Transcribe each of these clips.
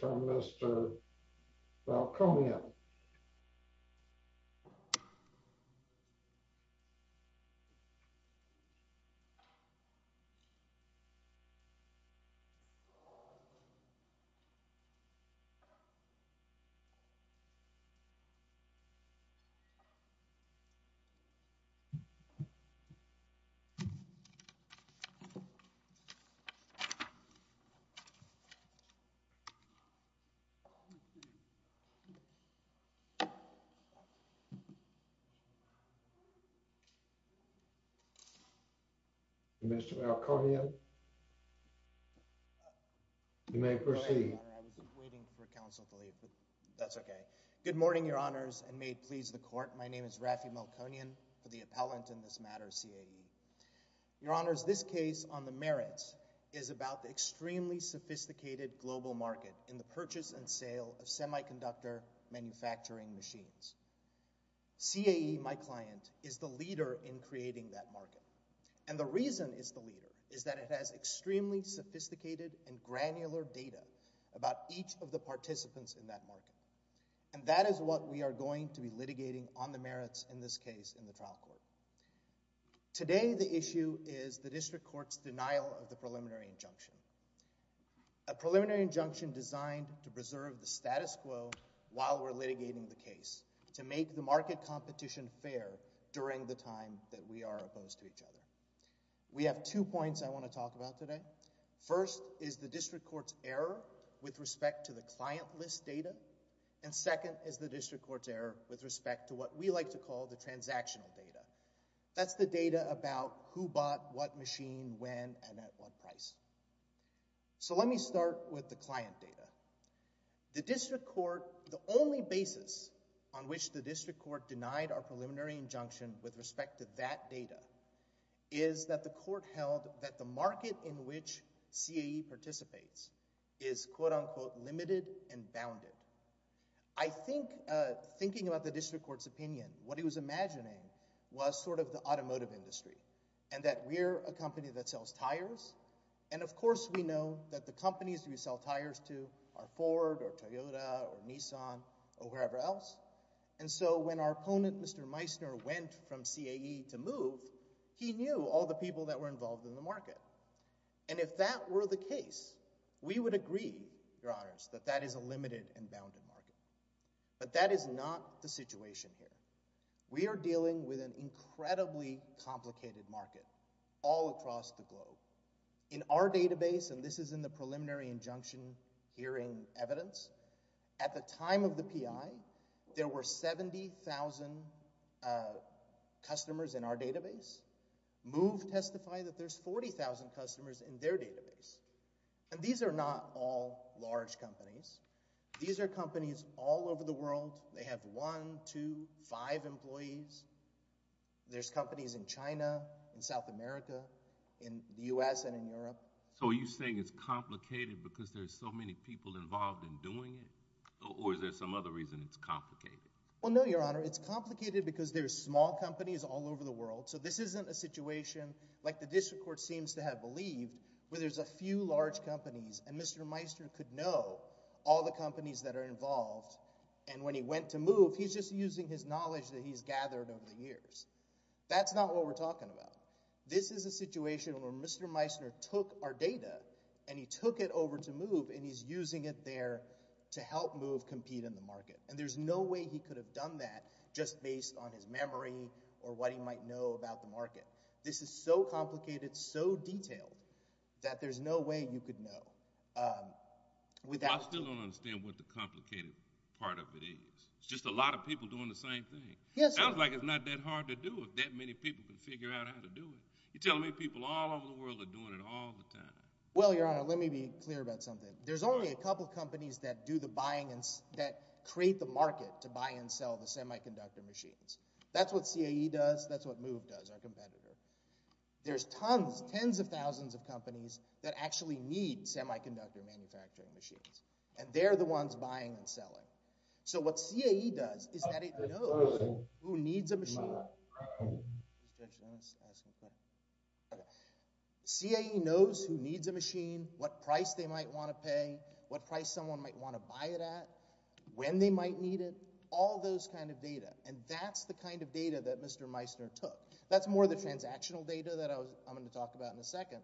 from Mr. Valconia. I was waiting for counsel to leave, but that's okay. Good morning, your honors, and may it please the court, my name is Rafi Malconian, for the appellant in this matter, CAE. Your honors, this case on the merits is about the extremely sophisticated global market in the purchase and sale of semiconductor manufacturing machines. CAE, my client, is the leader in creating that market. And the reason it's the leader is that it has extremely sophisticated and granular data about each of the participants in that market. And that is what we are going to be litigating on the merits in this case in the trial court. Today the issue is the district court's denial of the preliminary injunction. A preliminary injunction designed to preserve the status quo while we're litigating the case to make the market competition fair during the time that we are opposed to each other. We have two points I want to talk about today. First is the district court's error with respect to the client list data, and second is the district court's error with respect to what we like to call the transactional data. That's the data about who bought what machine, when, and at what price. So let me start with the client data. The district court, the only basis on which the district court denied our preliminary injunction with respect to that data is that the court held that the market in which CAE participates is quote-unquote limited and bounded. I think thinking about the district court's opinion, what he was imagining was sort of the automotive industry, and that we're a company that sells tires, and of course we know that the companies we sell tires to are Ford or Toyota or Nissan or wherever else. And so when our opponent, Mr. Meissner, went from CAE to MOVE, he knew all the people that were involved in the market. And if that were the case, we would agree, Your Honors, that that is a limited and bounded market. But that is not the situation here. We are dealing with an incredibly complicated market all across the globe. In our database, and this is in the preliminary injunction hearing evidence, at the time of database. And these are not all large companies. These are companies all over the world. They have one, two, five employees. There's companies in China, in South America, in the U.S. and in Europe. So are you saying it's complicated because there's so many people involved in doing it, or is there some other reason it's complicated? Well, no, Your Honor. It's complicated because there's small companies all over the world. So this isn't a situation, like the district court seems to have believed, where there's a few large companies, and Mr. Meissner could know all the companies that are involved. And when he went to MOVE, he's just using his knowledge that he's gathered over the years. That's not what we're talking about. This is a situation where Mr. Meissner took our data, and he took it over to MOVE, and And there's no way he could have done that just based on his memory or what he might know about the market. This is so complicated, so detailed, that there's no way you could know without— I still don't understand what the complicated part of it is. It's just a lot of people doing the same thing. It sounds like it's not that hard to do if that many people can figure out how to do it. You're telling me people all over the world are doing it all the time. Well, Your Honor, let me be clear about something. There's only a couple of companies that do the buying and—that create the market to buy and sell the semiconductor machines. That's what CAE does. That's what MOVE does, our competitor. There's tons, tens of thousands of companies that actually need semiconductor manufacturing machines, and they're the ones buying and selling. Mr. Judge, let me ask you a question. CAE knows who needs a machine, what price they might want to pay, what price someone might want to buy it at, when they might need it, all those kind of data, and that's the kind of data that Mr. Meissner took. That's more the transactional data that I'm going to talk about in a second,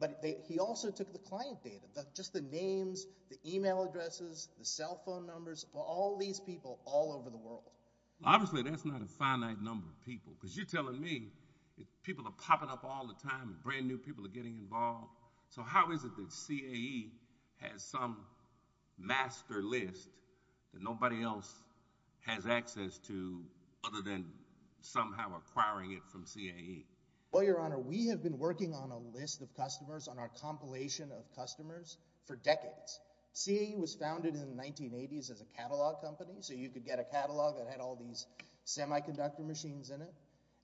but he also took the client data, just the names, the email addresses, the cell phone numbers, all these people all over the world. Obviously, that's not a finite number of people, because you're telling me people are popping up all the time, brand-new people are getting involved. So how is it that CAE has some master list that nobody else has access to, other than somehow acquiring it from CAE? Well, Your Honor, we have been working on a list of customers, on our compilation of customers, for decades. CAE was founded in the 1980s as a catalog company, so you could get a catalog that had all these semiconductor machines in it,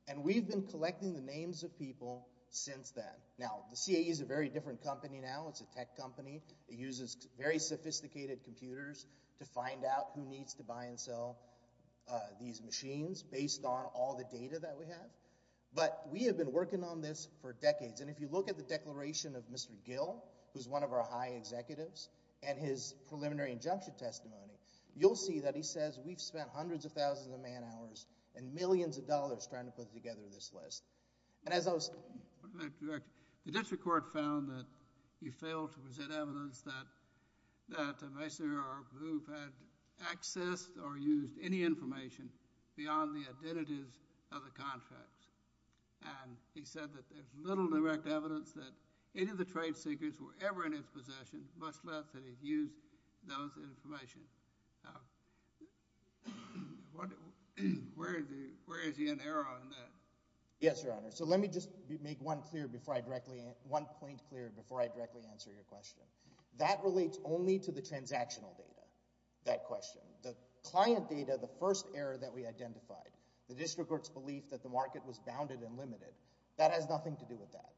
and we've been collecting the names of people since then. Now, the CAE is a very different company now, it's a tech company, it uses very sophisticated computers to find out who needs to buy and sell these machines, based on all the data that we have, but we have been working on this for decades, and if you look at the declaration of Mr. Gill, who's one of our high executives, and his preliminary injunction testimony, you'll see that he says, we've spent hundreds of thousands of man-hours, and millions of dollars trying to put together this list, and as I was telling you, the district court found that he failed to present evidence that a masonry group had accessed or used any information beyond the identities of the contracts, and he said that there's little direct evidence that any of the trade seekers were ever in his possession, much less that he'd used those pieces of information, now, where is the error in that? Yes, your honor, so let me just make one point clear before I directly answer your question. That relates only to the transactional data, that question. The client data, the first error that we identified, the district court's belief that the market was bounded and limited, that has nothing to do with that,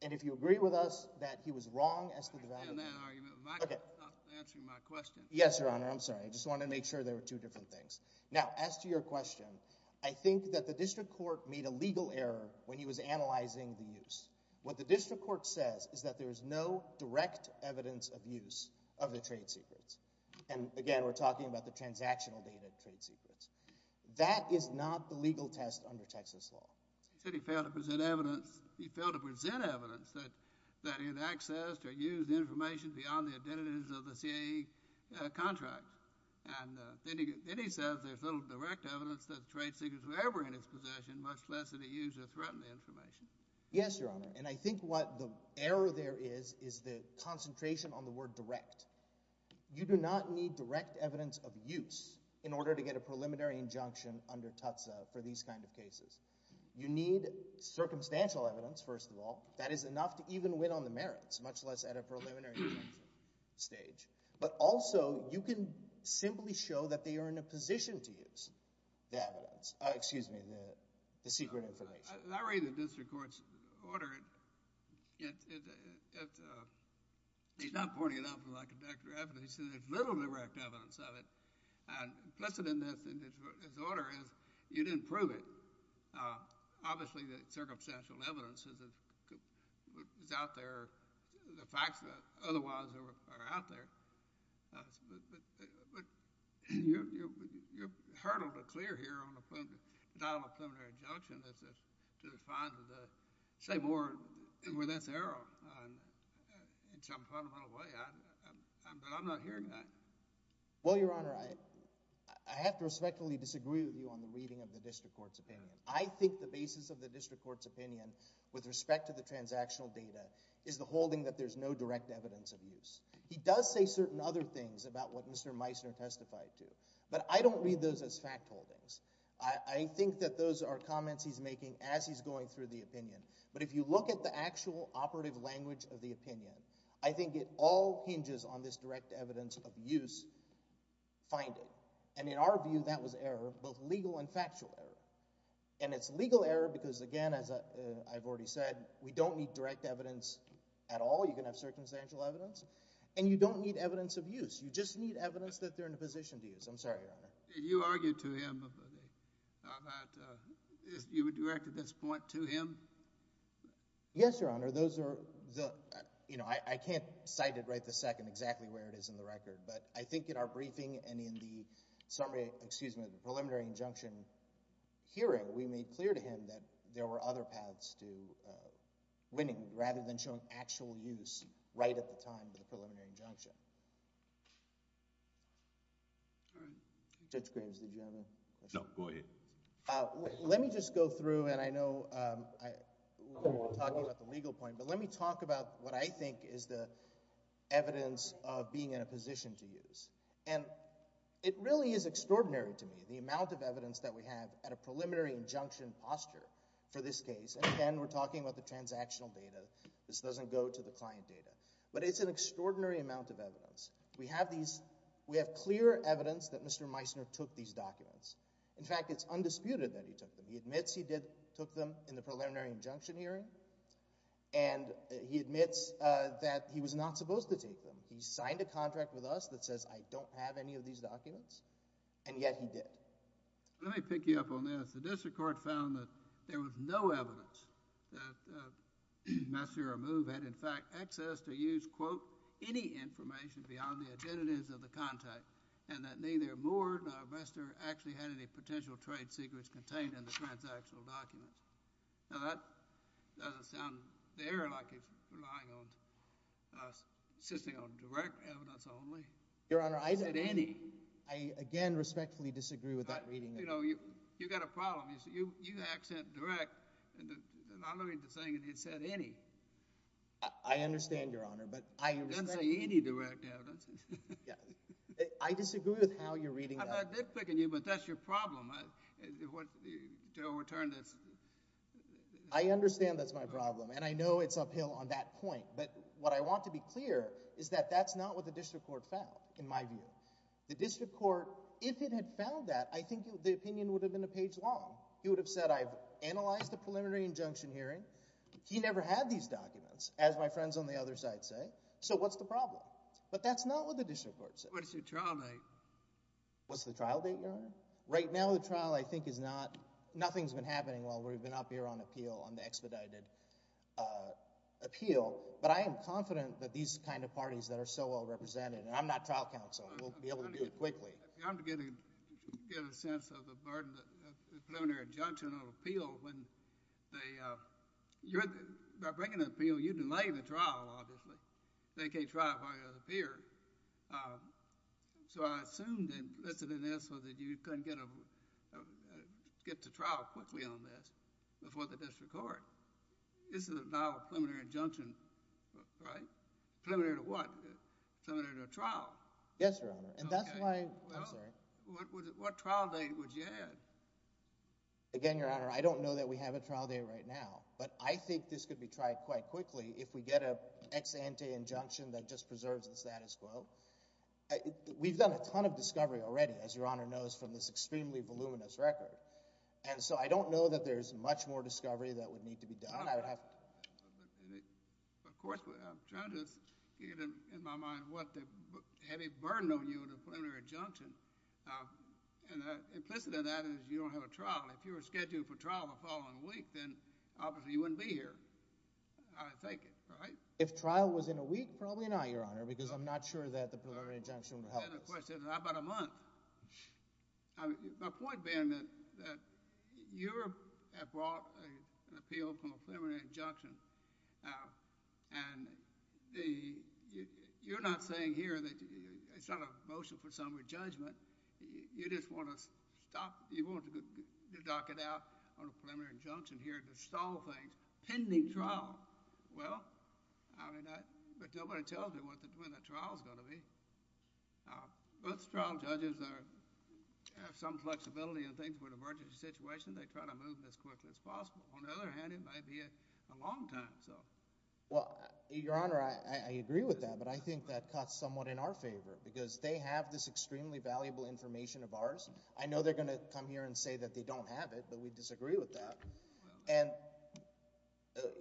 and if you agree with us in that argument, I'll stop answering my question. Yes, your honor, I'm sorry, I just wanted to make sure there were two different things. Now, as to your question, I think that the district court made a legal error when he was analyzing the use. What the district court says is that there is no direct evidence of use of the trade secrets, and again, we're talking about the transactional data trade secrets. That is not the legal test under Texas law. He said he failed to present evidence, he failed to present evidence that he had accessed or used information beyond the identities of the CAE contract, and then he says there's little direct evidence that the trade secrets were ever in his possession, much less that he used or threatened the information. Yes, your honor, and I think what the error there is, is the concentration on the word direct. You do not need direct evidence of use in order to get a preliminary injunction under these kind of cases. You need circumstantial evidence, first of all. That is enough to even win on the merits, much less at a preliminary injunction stage. But also, you can simply show that they are in a position to use the evidence, excuse me, the secret information. Larry, the district court's order, he's not pointing it out for like a decade, but he says there's little direct evidence of it, and implicit in his order is you didn't prove it. Obviously, the circumstantial evidence is out there, the facts that otherwise are out there, but you're hurdled to clear here on the dial of a preliminary injunction to say more where that's erroneous in some fundamental way, but I'm not hearing that. Well, your honor, I have to respectfully disagree with you on the reading of the district court 's opinion. I think the basis of the district court's opinion with respect to the transactional data is the holding that there's no direct evidence of use. He does say certain other things about what Mr. Meissner testified to, but I don't read those as fact holdings. I think that those are comments he's making as he's going through the opinion, but if you look at the actual operative language of the opinion, I think it all hinges on this direct evidence of use finding, and in our view, that was error, both legal and factual error, and it's legal error because, again, as I've already said, we don't need direct evidence at all. You can have circumstantial evidence, and you don't need evidence of use. You just need evidence that they're in a position to use. I'm sorry, your honor. Did you argue to him about if you would direct at this point to him? Yes, your honor. Those are the, you know, I can't cite it right this second exactly where it is in the record, but I think in our briefing and in the preliminary injunction hearing, we made clear to him that there were other paths to winning rather than showing actual use right at the time of the preliminary injunction. Judge Graves, did you have a question? No. Go ahead. Let me just go through, and I know we're talking about the legal point, but let me talk about what I think is the evidence of being in a position to use, and it really is extraordinary to me, the amount of evidence that we have at a preliminary injunction posture for this case, and again, we're talking about the transactional data. This doesn't go to the client data, but it's an extraordinary amount of evidence. We have these, we have clear evidence that Mr. Meissner took these documents. In fact, it's undisputed that he took them. He admits he did, took them in the preliminary injunction hearing, and he admits that he was not supposed to take them. He signed a contract with us that says, I don't have any of these documents, and yet he did. Let me pick you up on this. The district court found that there was no evidence that Meissner or Moove had in fact access to use, quote, any information beyond the identities of the contact, and that neither Moore nor Meissner actually had any potential trade secrets contained in the transactional documents. Now, that doesn't sound there like he's relying on, insisting on direct evidence only. Your Honor, I— He said any. I, again, respectfully disagree with that reading. You know, you've got a problem. You said, you accent direct, and I'm looking at the thing, and he said any. I understand, Your Honor, but I— He doesn't say any direct evidence. Yeah. I disagree with how you're reading that. I'm not nitpicking you, but that's your problem, to overturn this. I understand that's my problem, and I know it's uphill on that point, but what I want to be clear is that that's not what the district court found, in my view. The district court, if it had found that, I think the opinion would have been a page long. He would have said, I've analyzed the preliminary injunction hearing. He never had these documents, as my friends on the other side say, so what's the problem? But that's not what the district court said. What's your trial date? What's the trial date, Your Honor? Right now, the trial, I think, is not—nothing's been happening while we've been up here on appeal, on the expedited appeal, but I am confident that these kind of parties that are so well-represented—and I'm not trial counsel. We'll be able to do it quickly. I'm beginning to get a sense of the burden of the preliminary injunction on appeal when they—you're—by bringing the appeal, you delay the trial, obviously. They can't try it while you're on trial. They can't try it while you're on trial. So I assume that—let's say, that you couldn't get a—get to trial quickly on this before the district court. This is now a preliminary injunction, right? Preliminary to what? Preliminary to a trial. Yes, Your Honor. And that's why— I'm sorry. Well, what trial date would you have? Again, Your Honor, I don't know that we have a trial date right now, but I think this could be tried quite quickly if we get an ex ante injunction that just preserves the status quo. We've done a ton of discovery already, as Your Honor knows, from this extremely voluminous record. And so I don't know that there's much more discovery that would need to be done. I would have to— But, of course, I'm trying to get in my mind what the heavy burden on you in a preliminary injunction. And implicit in that is you don't have a trial. If you were scheduled for trial the following week, then obviously you wouldn't be here, I take it, right? If trial was in a week, probably not, Your Honor, because I'm not sure that the preliminary injunction would help us. The question is, how about a month? My point being that you have brought an appeal from a preliminary injunction, and you're not saying here that it's not a motion for summary judgment. You just want to stop—you want to dock it out on a preliminary injunction here to stall things, pending trial. Well, I mean, but nobody tells me when the trial's going to be. Both trial judges are—have some flexibility in things with emergency situations. They try to move as quickly as possible. On the other hand, it might be a long time, so— Well, Your Honor, I agree with that, but I think that cuts somewhat in our favor, because they have this extremely valuable information of ours. I know they're going to come here and say that they don't have it, but we disagree with that. And,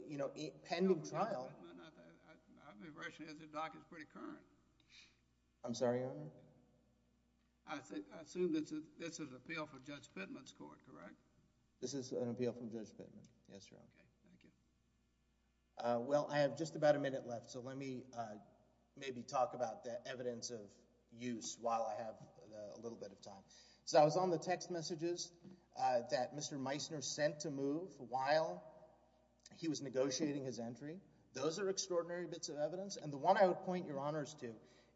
you know, pending trial— No, Judge Pittman, I've been rushing it. The dock is pretty current. I'm sorry, Your Honor? I assume that this is an appeal from Judge Pittman's court, correct? This is an appeal from Judge Pittman. Yes, Your Honor. Okay. Thank you. Well, I have just about a minute left, so let me maybe talk about the evidence of the use while I have a little bit of time. So I was on the text messages that Mr. Meissner sent to move while he was negotiating his entry. Those are extraordinary bits of evidence, and the one I would point Your Honors to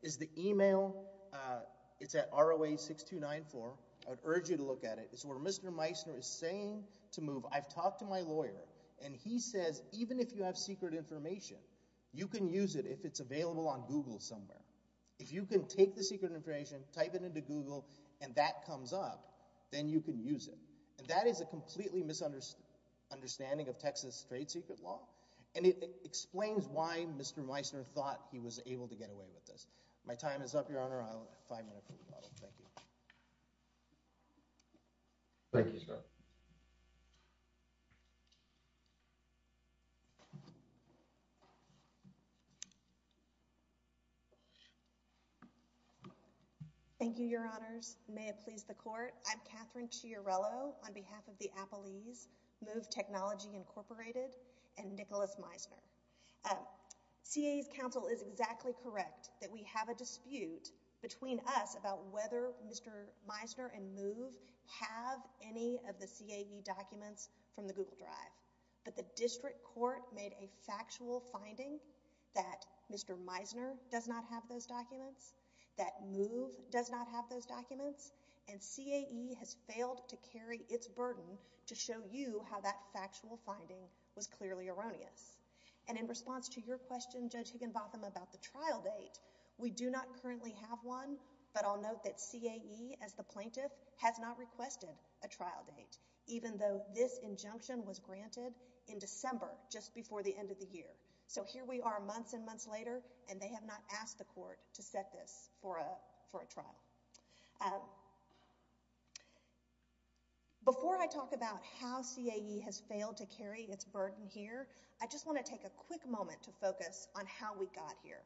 is the email. It's at ROA-6294. I would urge you to look at it. It's where Mr. Meissner is saying to move, I've talked to my lawyer, and he says even if you have secret information, you can use it if it's available on Google somewhere. If you can take the secret information, type it into Google, and that comes up, then you can use it. And that is a completely misunderstanding of Texas trade secret law, and it explains why Mr. Meissner thought he was able to get away with this. My time is up, Your Honor. I'll have five minutes for rebuttal. Thank you. Thank you, Scott. Thank you, Your Honors. May it please the Court. I'm Catherine Chiarello on behalf of the Appalese Move Technology Incorporated and Nicholas Meissner. CA's counsel is exactly correct that we have a dispute between us about whether Mr. Meissner and Move have any of the CAE documents from the Google Drive, but the district court made a factual finding that Mr. Meissner does not have those documents, that Move does not have those documents, and CAE has failed to carry its burden to show you how that factual finding was clearly erroneous. And in response to your question, Judge Higginbotham, about the trial date, we do not currently have one, but I'll note that CAE, as the plaintiff, has not requested a trial date, even though this injunction was granted in December, just before the end of the year. So here we are months and months later, and they have not asked the court to set this for a trial. Before I talk about how CAE has failed to carry its burden here, I just want to take a quick moment to focus on how we got here.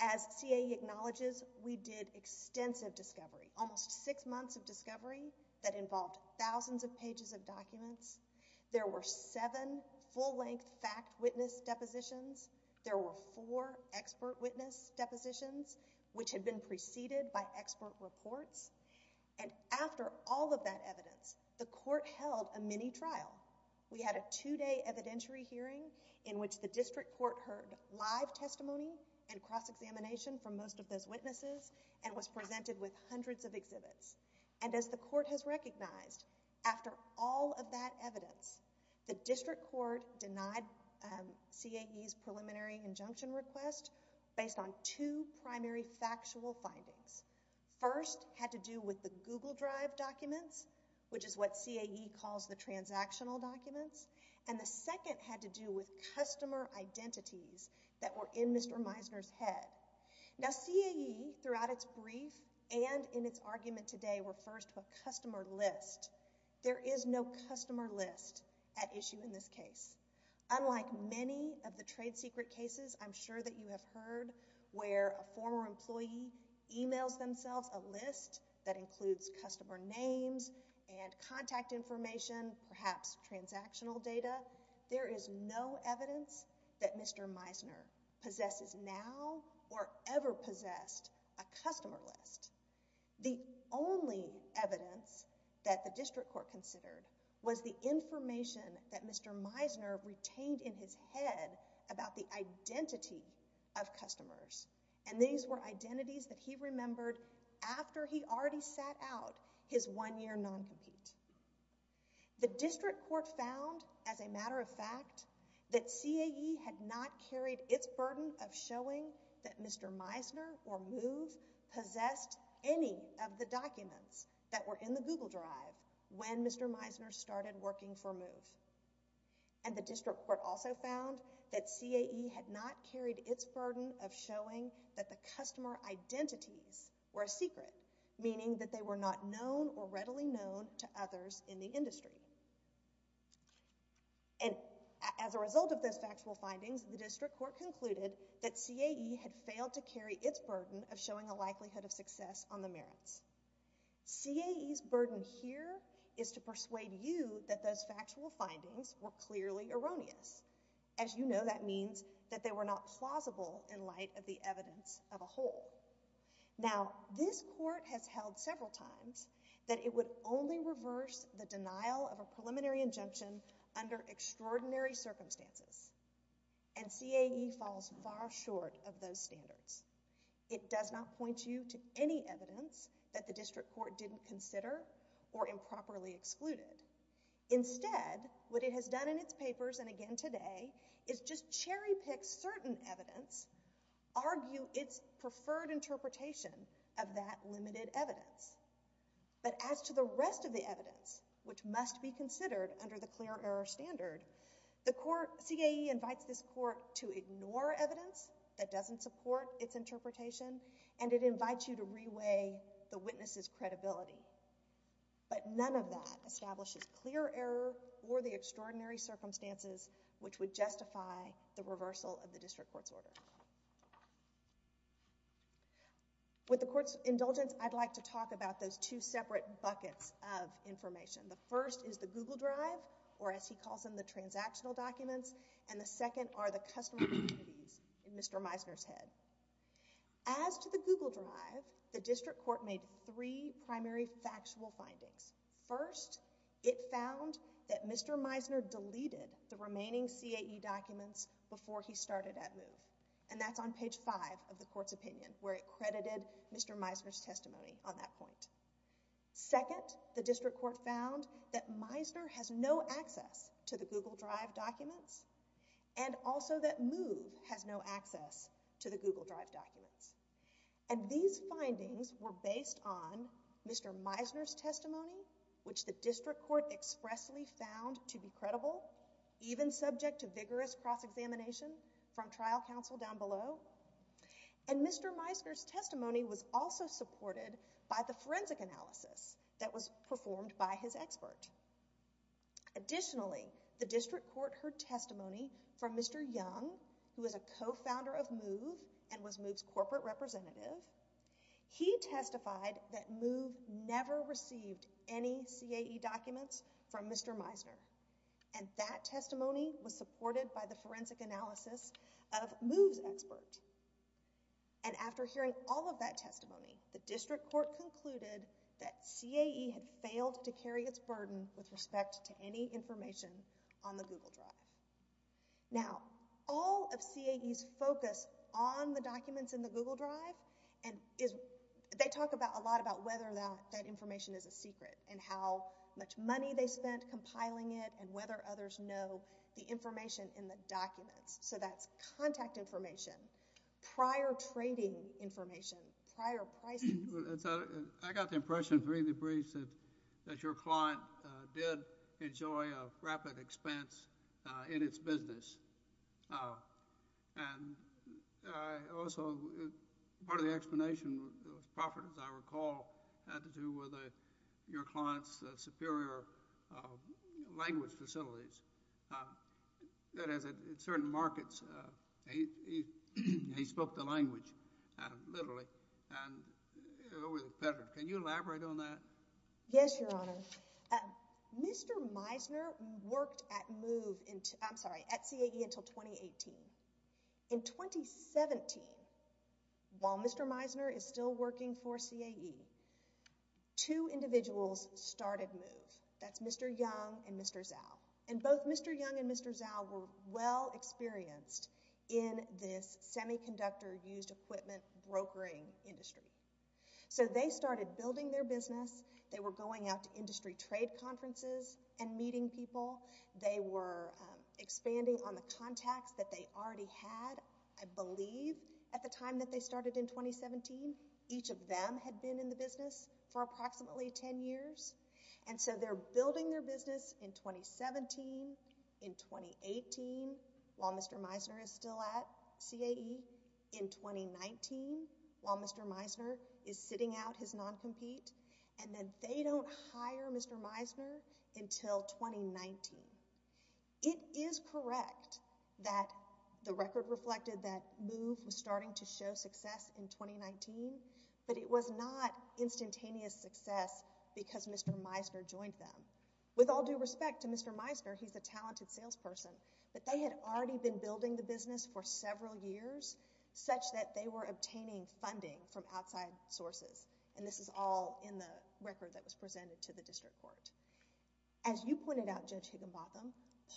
As CAE acknowledges, we did extensive discovery, almost six months of discovery, that involved thousands of pages of documents. There were seven full-length fact witness depositions. There were four expert witness depositions, which had been preceded by expert reports. And after all of that evidence, the court held a mini-trial. We had a two-day evidentiary hearing in which the district court heard live testimony and cross-examination from most of those witnesses and was presented with hundreds of exhibits. And as the court has recognized, after all of that evidence, the district court denied CAE's preliminary injunction request based on two primary factual findings. First had to do with the Google Drive documents, which is what CAE calls the transactional documents, and the second had to do with customer identities that were in Mr. Meisner's head. Now CAE, throughout its brief and in its argument today, refers to a customer list. There is no customer list at issue in this case. Unlike many of the trade secret cases I'm sure that you have heard where a former employee emails themselves a list that includes customer names and contact information, perhaps transactional data, there is no evidence that Mr. Meisner possesses now or ever possessed a customer list. The only evidence that the district court considered was the information that Mr. Meisner retained in his head about the identity of customers. And these were identities that he remembered after he already sat out his one-year non-compete. The district court found, as a matter of fact, that CAE had not carried its burden of showing that Mr. Meisner or MOVE possessed any of the documents that were in the Google Drive when Mr. Meisner started working for MOVE. And the district court also found that CAE had not carried its burden of showing that the customer identities were a secret, meaning that they were not known or readily known to others in the industry. And as a result of those factual findings, the district court concluded that CAE had failed to carry its burden of showing a likelihood of success on the merits. CAE's burden here is to persuade you that those factual findings were clearly erroneous. As you know, that means that they were not plausible in light of the evidence of a whole. Now, this court has held several times that it would only reverse the denial of a preliminary injunction under extraordinary circumstances. And CAE falls far short of those standards. It does not point you to any evidence that the district court didn't consider or improperly excluded. Instead, what it has done in its papers, and again today, is just cherry pick certain evidence, argue its preferred interpretation of that limited evidence. But as to the rest of the evidence, which must be considered under the clear error standard, the court, CAE invites this court to ignore evidence that doesn't support its interpretation, and it invites you to reweigh the witness's credibility. But none of that establishes clear error or the extraordinary circumstances which would justify the reversal of the district court's order. With the court's indulgence, I'd like to talk about those two separate buckets of information. The first is the Google Drive, or as he calls them, the transactional documents. And the second are the customer communities in Mr. Meisner's head. As to the Google Drive, the district court made three primary factual findings. First, it found that Mr. Meisner deleted the remaining CAE documents before he started at MOVE. And that's on page 5 of the court's opinion, where it credited Mr. Meisner's testimony on that point. Second, the district court found that Meisner has no access to the Google Drive documents, and also that MOVE has no access to the Google Drive documents. And these findings were based on Mr. Meisner's testimony, which the district court expressly found to be credible, even subject to vigorous cross-examination from trial counsel down below. And Mr. Meisner's testimony was also supported by the forensic analysis that was performed by his expert. Additionally, the district court heard testimony from Mr. Young, who is a co-founder of MOVE and was MOVE's corporate representative. He testified that MOVE never received any CAE documents from Mr. Meisner. And that testimony was supported by the forensic analysis of MOVE's expert. And after hearing all of that testimony, the district court concluded that CAE had failed to carry its burden with respect to any information on the Google Drive. Now, all of CAE's focus on the documents in the Google Drive, and they talk a lot about whether that information is a secret, and how much money they spent compiling it, and whether others know the information in the documents. So that's contact information, prior trading information, prior pricing. I got the impression through the briefs that your client did enjoy a rapid expense in its business. And also, part of the explanation was profit, as I recall, had to do with your client's superior language facilities. That is, at certain markets, he spoke the language, literally, and it was a pleasure. Can you elaborate on that? Yes, Your Honor. Mr. Meisner worked at MOVE, I'm sorry, at CAE until 2018. In 2017, while Mr. Meisner is still working for CAE, two individuals started MOVE. That's Mr. Young and Mr. Zhao. And both Mr. Young and Mr. Zhao were well experienced in this semiconductor used equipment brokering industry. So they started building their business. They were going out to industry trade conferences and meeting people. They were expanding on the contacts that they already had, I believe, at the time that they started in 2017. Each of them had been in the business for approximately 10 years. And so they're building their business in 2017, in 2018, while Mr. Meisner is still at CAE, in 2019, while Mr. Meisner is sitting out his non-compete. And then they don't hire Mr. Meisner until 2019. It is correct that the record reflected that MOVE was starting to show success in 2019, but it was not instantaneous success because Mr. Meisner joined them. With all due respect to Mr. Meisner, he's a talented salesperson, but they had already been building the business for several years, such that they were obtaining funding from outside sources. And this is all in the record that was presented to the district court. As you pointed out, Judge Higginbotham,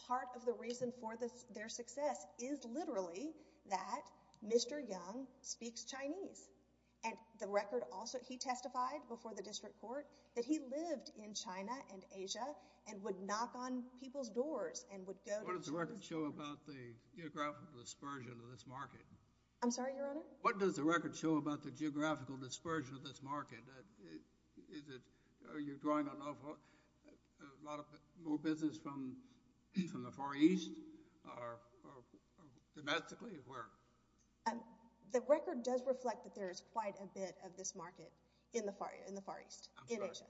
part of the reason for their success is literally that Mr. Young speaks Chinese. And the record also—he testified before the district court that he lived in China and Asia and would knock on people's doors and would go to— What does the record show about the geographical dispersion of this market? I'm sorry, Your Honor? What does the record show about the geographical dispersion of this market? Is it—are you drawing a lot more business from the Far East or domestically? The record does reflect that there is quite a bit of this market in the Far East, in Asia.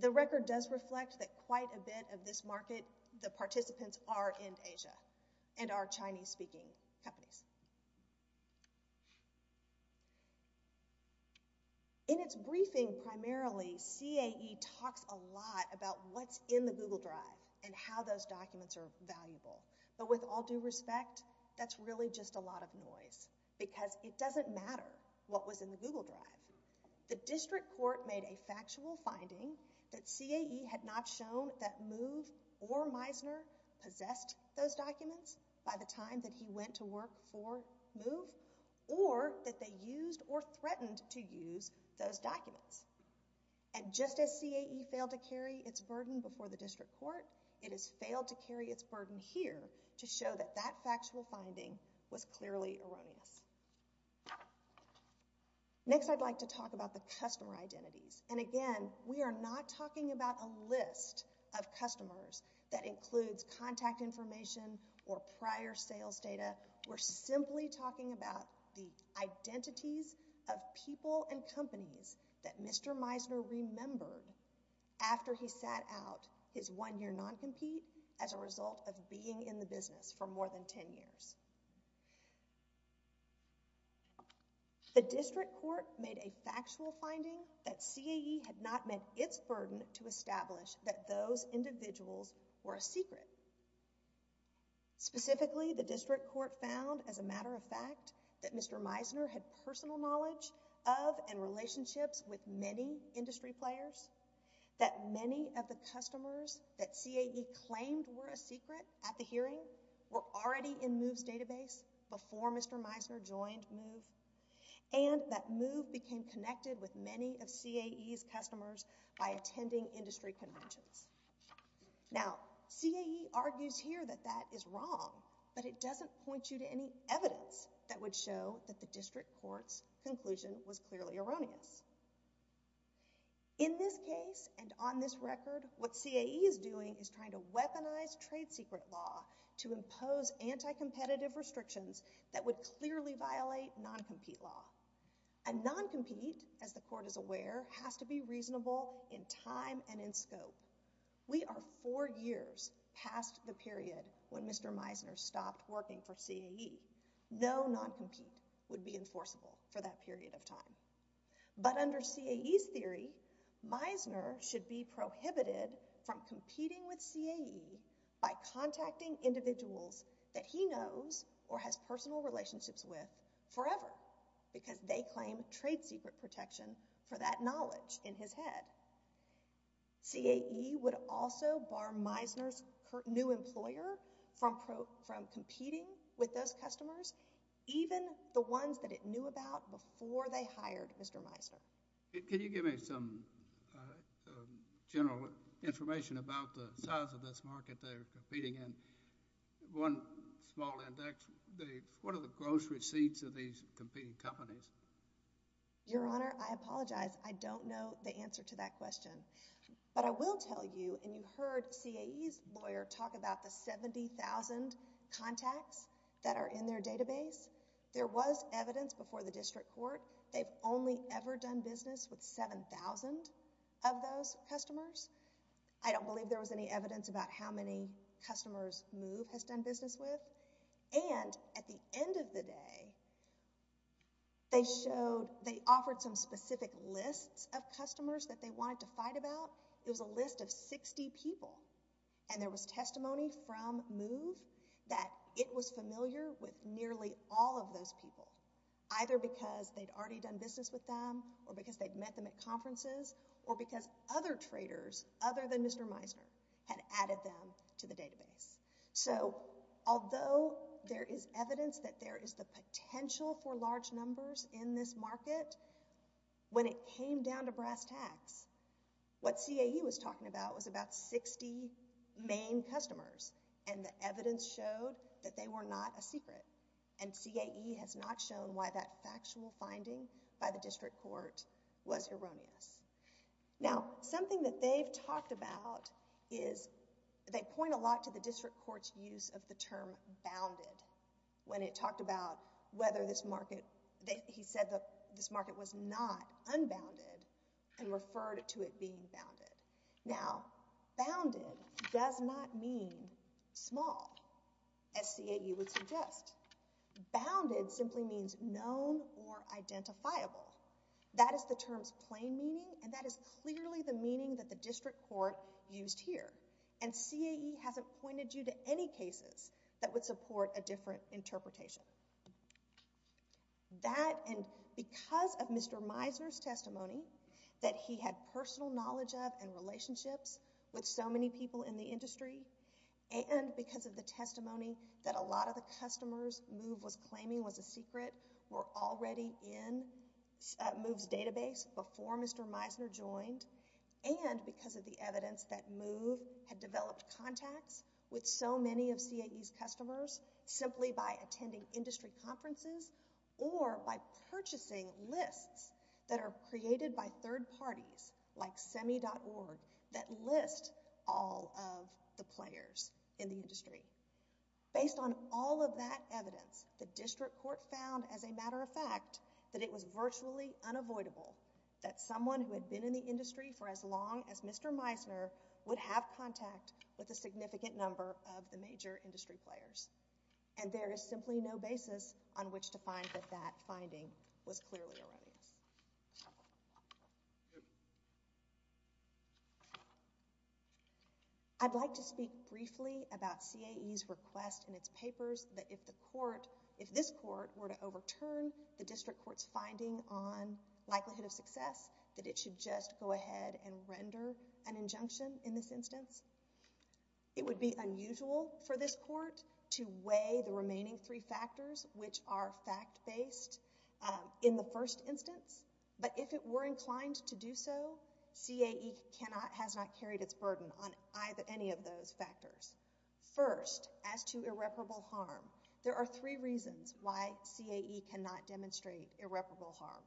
The record does reflect that quite a bit of this market, the participants are in Asia and are Chinese-speaking companies. In its briefing, primarily, CAE talks a lot about what's in the Google Drive and how those documents are valuable. But with all due respect, that's really just a lot of noise, because it doesn't matter what was in the Google Drive. The district court made a factual finding that CAE had not shown that MOVE or Meisner possessed those documents by the time that he went to work for MOVE, or that he had not used or threatened to use those documents. And just as CAE failed to carry its burden before the district court, it has failed to carry its burden here to show that that factual finding was clearly erroneous. Next, I'd like to talk about the customer identities. And again, we are not talking about a list of customers that includes contact information or prior sales data. We're simply talking about the identities of people and companies that Mr. Meisner remembered after he sat out his one-year non-compete as a result of being in the business for more than 10 years. The district court made a factual finding that CAE had not met its burden to establish that those individuals were a secret. Specifically, the district court found as a matter of fact that Mr. Meisner had personal knowledge of and relationships with many industry players, that many of the customers that CAE claimed were a secret at the hearing were already in MOVE's database before Mr. Meisner joined MOVE, and that MOVE became connected with many of CAE's customers by attending industry conventions. Now, CAE argues here that that is wrong, but it doesn't point you to any evidence that would show that the district court's conclusion was clearly erroneous. In this case, and on this record, what CAE is doing is trying to weaponize trade secret law to impose anti-competitive restrictions that would clearly violate non-compete law. And non-compete, as the court is aware, has to be reasonable in time and in scope. We are four years past the period when Mr. Meisner stopped working for CAE. No non-compete would be enforceable for that period of time. But under CAE's theory, Meisner should be prohibited from competing with CAE by contacting individuals that he knows or has personal relationships with forever because they claim trade secret protection for that knowledge in his head. CAE would also bar Meisner's new employer from competing with those customers, even the ones that it knew about before they hired Mr. Meisner. Can you give me some general information about the size of this market they're competing in? One small index, what are the gross receipts of these competing companies? Your Honor, I apologize. I don't know the answer to that question. But I will tell you, and you heard CAE's lawyer talk about the 70,000 contacts that are in their database. There was evidence before the district court they've only ever done business with 7,000 of those customers. I don't believe there was any evidence about how many customers MOVE has done business with. And at the end of the day, they showed, they offered some specific lists of customers that they wanted to fight about. It was a list of 60 people, and there was testimony from MOVE that it was familiar with nearly all of those people, either because they'd already done business with them or because they'd met them at conferences or because other traders other than Mr. Meisner had added them to the database. So although there is evidence that there is the potential for large numbers in this market, when it came down to brass tacks, what CAE was talking about was about 60 main customers, and the evidence showed that they were not a secret. And CAE has not shown why that factual finding by the district court was erroneous. Now, something that they've talked about is they point a lot to the district court's use of the term bounded when it talked about whether this market, he said that this market was not unbounded and referred to it being bounded. Now, bounded does not mean small, as CAE would suggest. Bounded simply means known or identifiable. That is the term's plain meaning, and that is clearly the meaning that the district court used here. And CAE hasn't pointed you to any cases that would support a different interpretation. That and because of Mr. Meisner's testimony that he had personal knowledge of and relationships with so many people in the industry, and because of the testimony that a lot of the customers MOVE was claiming was a secret were already in MOVE's database before Mr. Meisner joined, and because of the evidence that MOVE had developed contacts with so many of CAE's customers simply by attending industry conferences or by purchasing lists that are created by third parties like semi.org that list all of the players in the industry. Based on all of that evidence, the district court found, as a matter of fact, that it for as long as Mr. Meisner would have contact with a significant number of the major industry players, and there is simply no basis on which to find that that finding was clearly erroneous. I'd like to speak briefly about CAE's request in its papers that if the court, if this court were to overturn the district court's finding on likelihood of success, that it should just and render an injunction in this instance. It would be unusual for this court to weigh the remaining three factors, which are fact-based, in the first instance, but if it were inclined to do so, CAE has not carried its burden on any of those factors. First, as to irreparable harm, there are three reasons why CAE cannot demonstrate irreparable harm.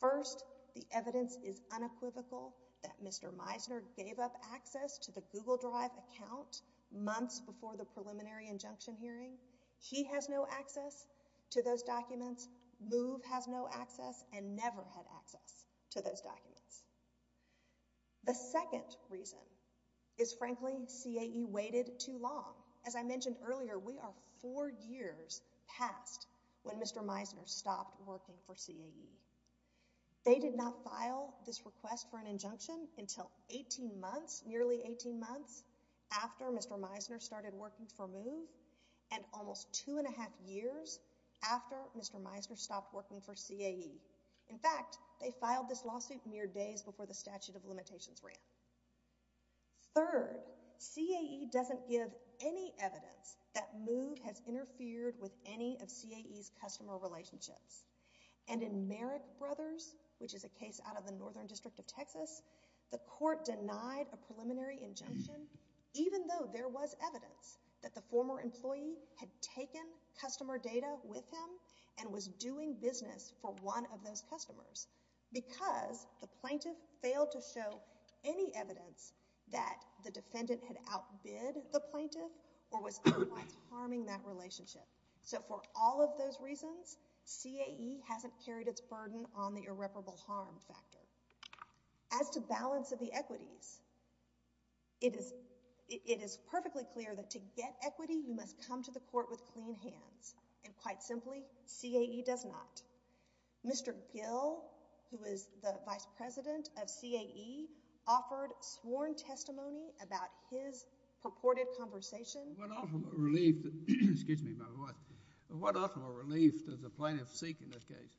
First, the evidence is unequivocal that Mr. Meisner gave up access to the Google Drive account months before the preliminary injunction hearing. He has no access to those documents. MOVE has no access and never had access to those documents. The second reason is, frankly, CAE waited too long. As I mentioned earlier, we are four years past when Mr. Meisner stopped working for CAE. They did not file this request for an injunction until 18 months, nearly 18 months, after Mr. Meisner started working for MOVE and almost two and a half years after Mr. Meisner stopped working for CAE. In fact, they filed this lawsuit mere days before the statute of limitations ran. Third, CAE doesn't give any evidence that MOVE has interfered with any of CAE's customer relationships. In Merrick Brothers, which is a case out of the Northern District of Texas, the court denied a preliminary injunction even though there was evidence that the former employee had taken customer data with him and was doing business for one of those customers because the plaintiff failed to show any evidence that the defendant had outbid the plaintiff or was otherwise harming that relationship. So for all of those reasons, CAE hasn't carried its burden on the irreparable harm factor. As to balance of the equities, it is perfectly clear that to get equity, you must come to the court with clean hands, and quite simply, CAE does not. Mr. Gill, who is the vice president of CAE, offered sworn testimony about his purported conversation. What ultimate relief does the plaintiff seek in this case?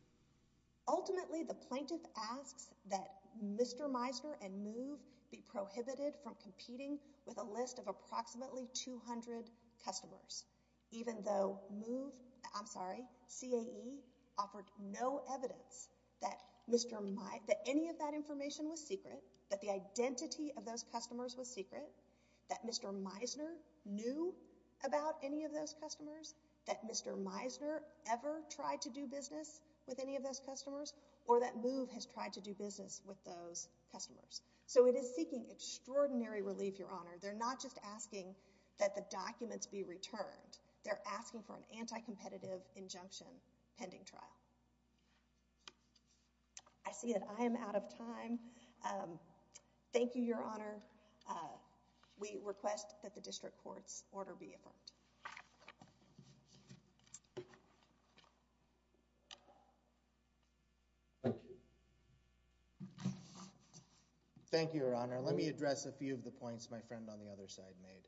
Ultimately, the plaintiff asks that Mr. Meisner and MOVE be prohibited from competing with a list of approximately 200 customers, even though MOVE, I'm sorry, CAE offered no evidence that any of that information was secret, that the identity of those customers was secret, that Mr. Meisner knew about any of those customers, that Mr. Meisner ever tried to do business with any of those customers, or that MOVE has tried to do business with those customers. So it is seeking extraordinary relief, Your Honor. They're not just asking that the documents be returned. They're asking for an anti-competitive injunction pending trial. I see that I am out of time. Thank you, Your Honor. We request that the district court's order be affirmed. Thank you. Thank you, Your Honor. Let me address a few of the points my friend on the other side made.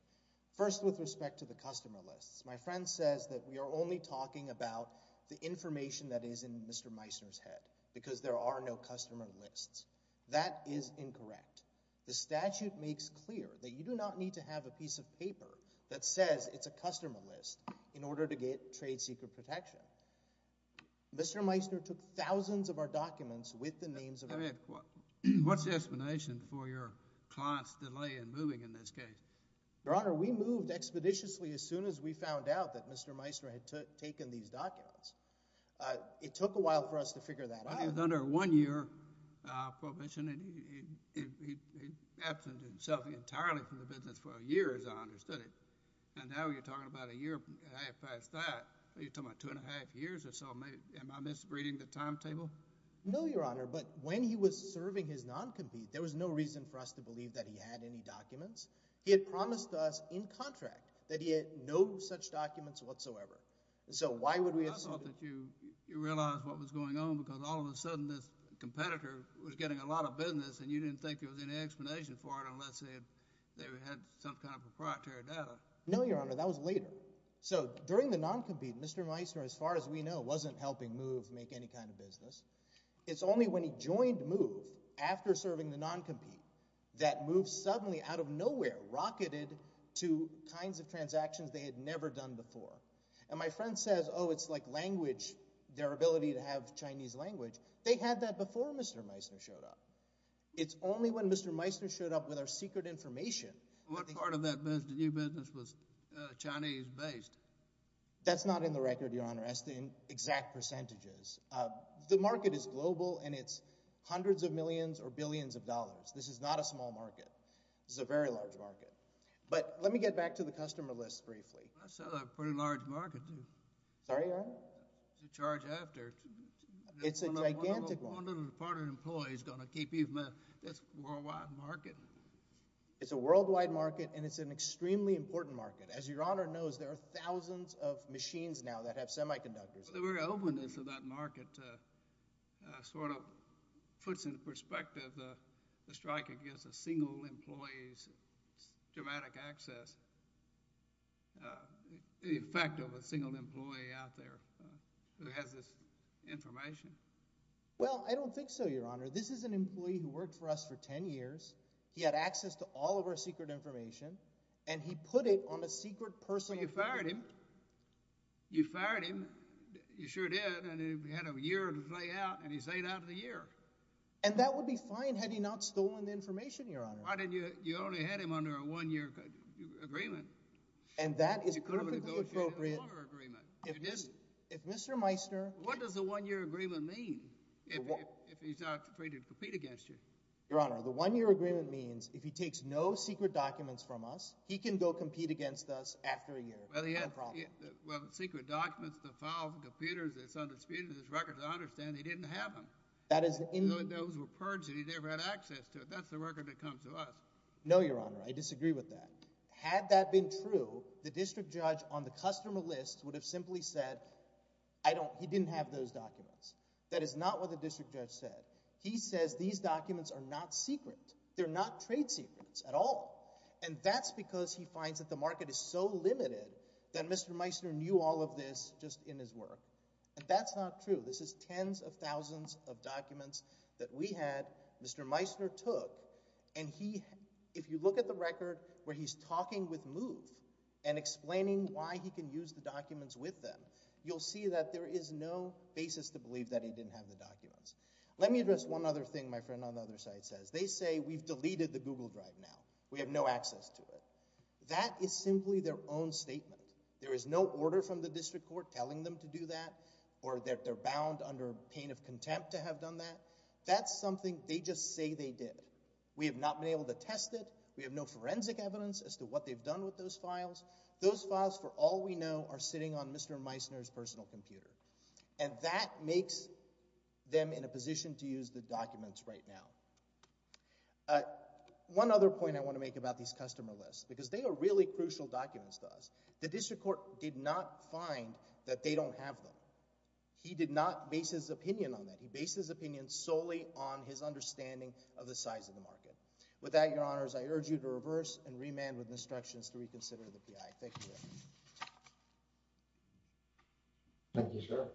First, with respect to the customer lists, my friend says that we are only talking about the information that is in Mr. Meisner's head, because there are no customer lists. That is incorrect. The statute makes clear that you do not need to have a piece of paper that says it's a customer list in order to get trade secret protection. Mr. Meisner took thousands of our documents with the names of— What's the explanation for your client's delay in moving in this case? Your Honor, we moved expeditiously as soon as we found out that Mr. Meisner had taken these documents. It took a while for us to figure that out. He was under a one-year prohibition, and he absented himself entirely from the business for a year, as I understood it. And now you're talking about a year and a half past that. You're talking about two and a half years or so. Am I misreading the timetable? No, Your Honor, but when he was serving his non-compete, there was no reason for us to believe that he had any documents. He had promised us in contract that he had no such documents whatsoever. So why would we have— I thought that you realized what was going on because all of a sudden this competitor was getting a lot of business, and you didn't think there was any explanation for it unless they had some kind of proprietary data. No, Your Honor, that was later. So during the non-compete, Mr. Meisner, as far as we know, wasn't helping MOVE make any kind of business. It's only when he joined MOVE after serving the non-compete that MOVE suddenly, out of nowhere, rocketed to kinds of transactions they had never done before. And my friend says, oh, it's like language, their ability to have Chinese language. They had that before Mr. Meisner showed up. It's only when Mr. Meisner showed up with our secret information— What part of that new business was Chinese-based? That's not in the record, Your Honor. That's in exact percentages. The market is global, and it's hundreds of millions or billions of dollars. This is not a small market. This is a very large market. But let me get back to the customer list briefly. That's a pretty large market, too. Sorry, Your Honor? To charge after. It's a gigantic one. One of the department employees is going to keep you from that. That's a worldwide market. It's a worldwide market, and it's an extremely important market. As Your Honor knows, there are thousands of machines now that have semiconductors. The very openness of that market sort of puts into perspective the strike against a single employee's dramatic access, the effect of a single employee out there who has this information. Well, I don't think so, Your Honor. This is an employee who worked for us for 10 years. He had access to all of our secret information, and he put it on a secret personal— You fired him. You fired him. You sure did. And he had a year to lay out, and he stayed out of the year. And that would be fine had he not stolen the information, Your Honor. Why didn't you—you only had him under a one-year agreement. And that is perfectly appropriate— You could have negotiated a longer agreement. You didn't. If Mr. Meissner— What does a one-year agreement mean if he's not free to compete against you? Your Honor, the one-year agreement means if he takes no secret documents from us, he can go compete against us after a year, no problem. Well, the secret documents, the files, the computers, it's undisputed. There's records. I understand he didn't have them. That is— Those were purged, and he never had access to it. That's the record that comes to us. No, Your Honor. I disagree with that. Had that been true, the district judge on the customer list would have simply said, I don't—he didn't have those documents. That is not what the district judge said. He says these documents are not secret. They're not trade secrets at all. And that's because he finds that the market is so limited that Mr. Meissner knew all of this just in his work. And that's not true. This is tens of thousands of documents that we had Mr. Meissner took, and he—if you look at the record where he's talking with MOVE and explaining why he can use the documents with them, you'll see that there is no basis to believe that he didn't have the documents. Let me address one other thing my friend on the other side says. They say we've deleted the Google Drive now. We have no access to it. That is simply their own statement. There is no order from the district court telling them to do that, or that they're bound under pain of contempt to have done that. That's something they just say they did. We have not been able to test it. We have no forensic evidence as to what they've done with those files. Those files, for all we know, are sitting on Mr. Meissner's personal computer. And that makes them in a position to use the documents right now. Uh, one other point I want to make about these customer lists, because they are really crucial documents to us. The district court did not find that they don't have them. He did not base his opinion on that. He based his opinion solely on his understanding of the size of the market. With that, Your Honors, I urge you to reverse and remand with instructions to reconsider the PI. Thank you. Thank you, sir.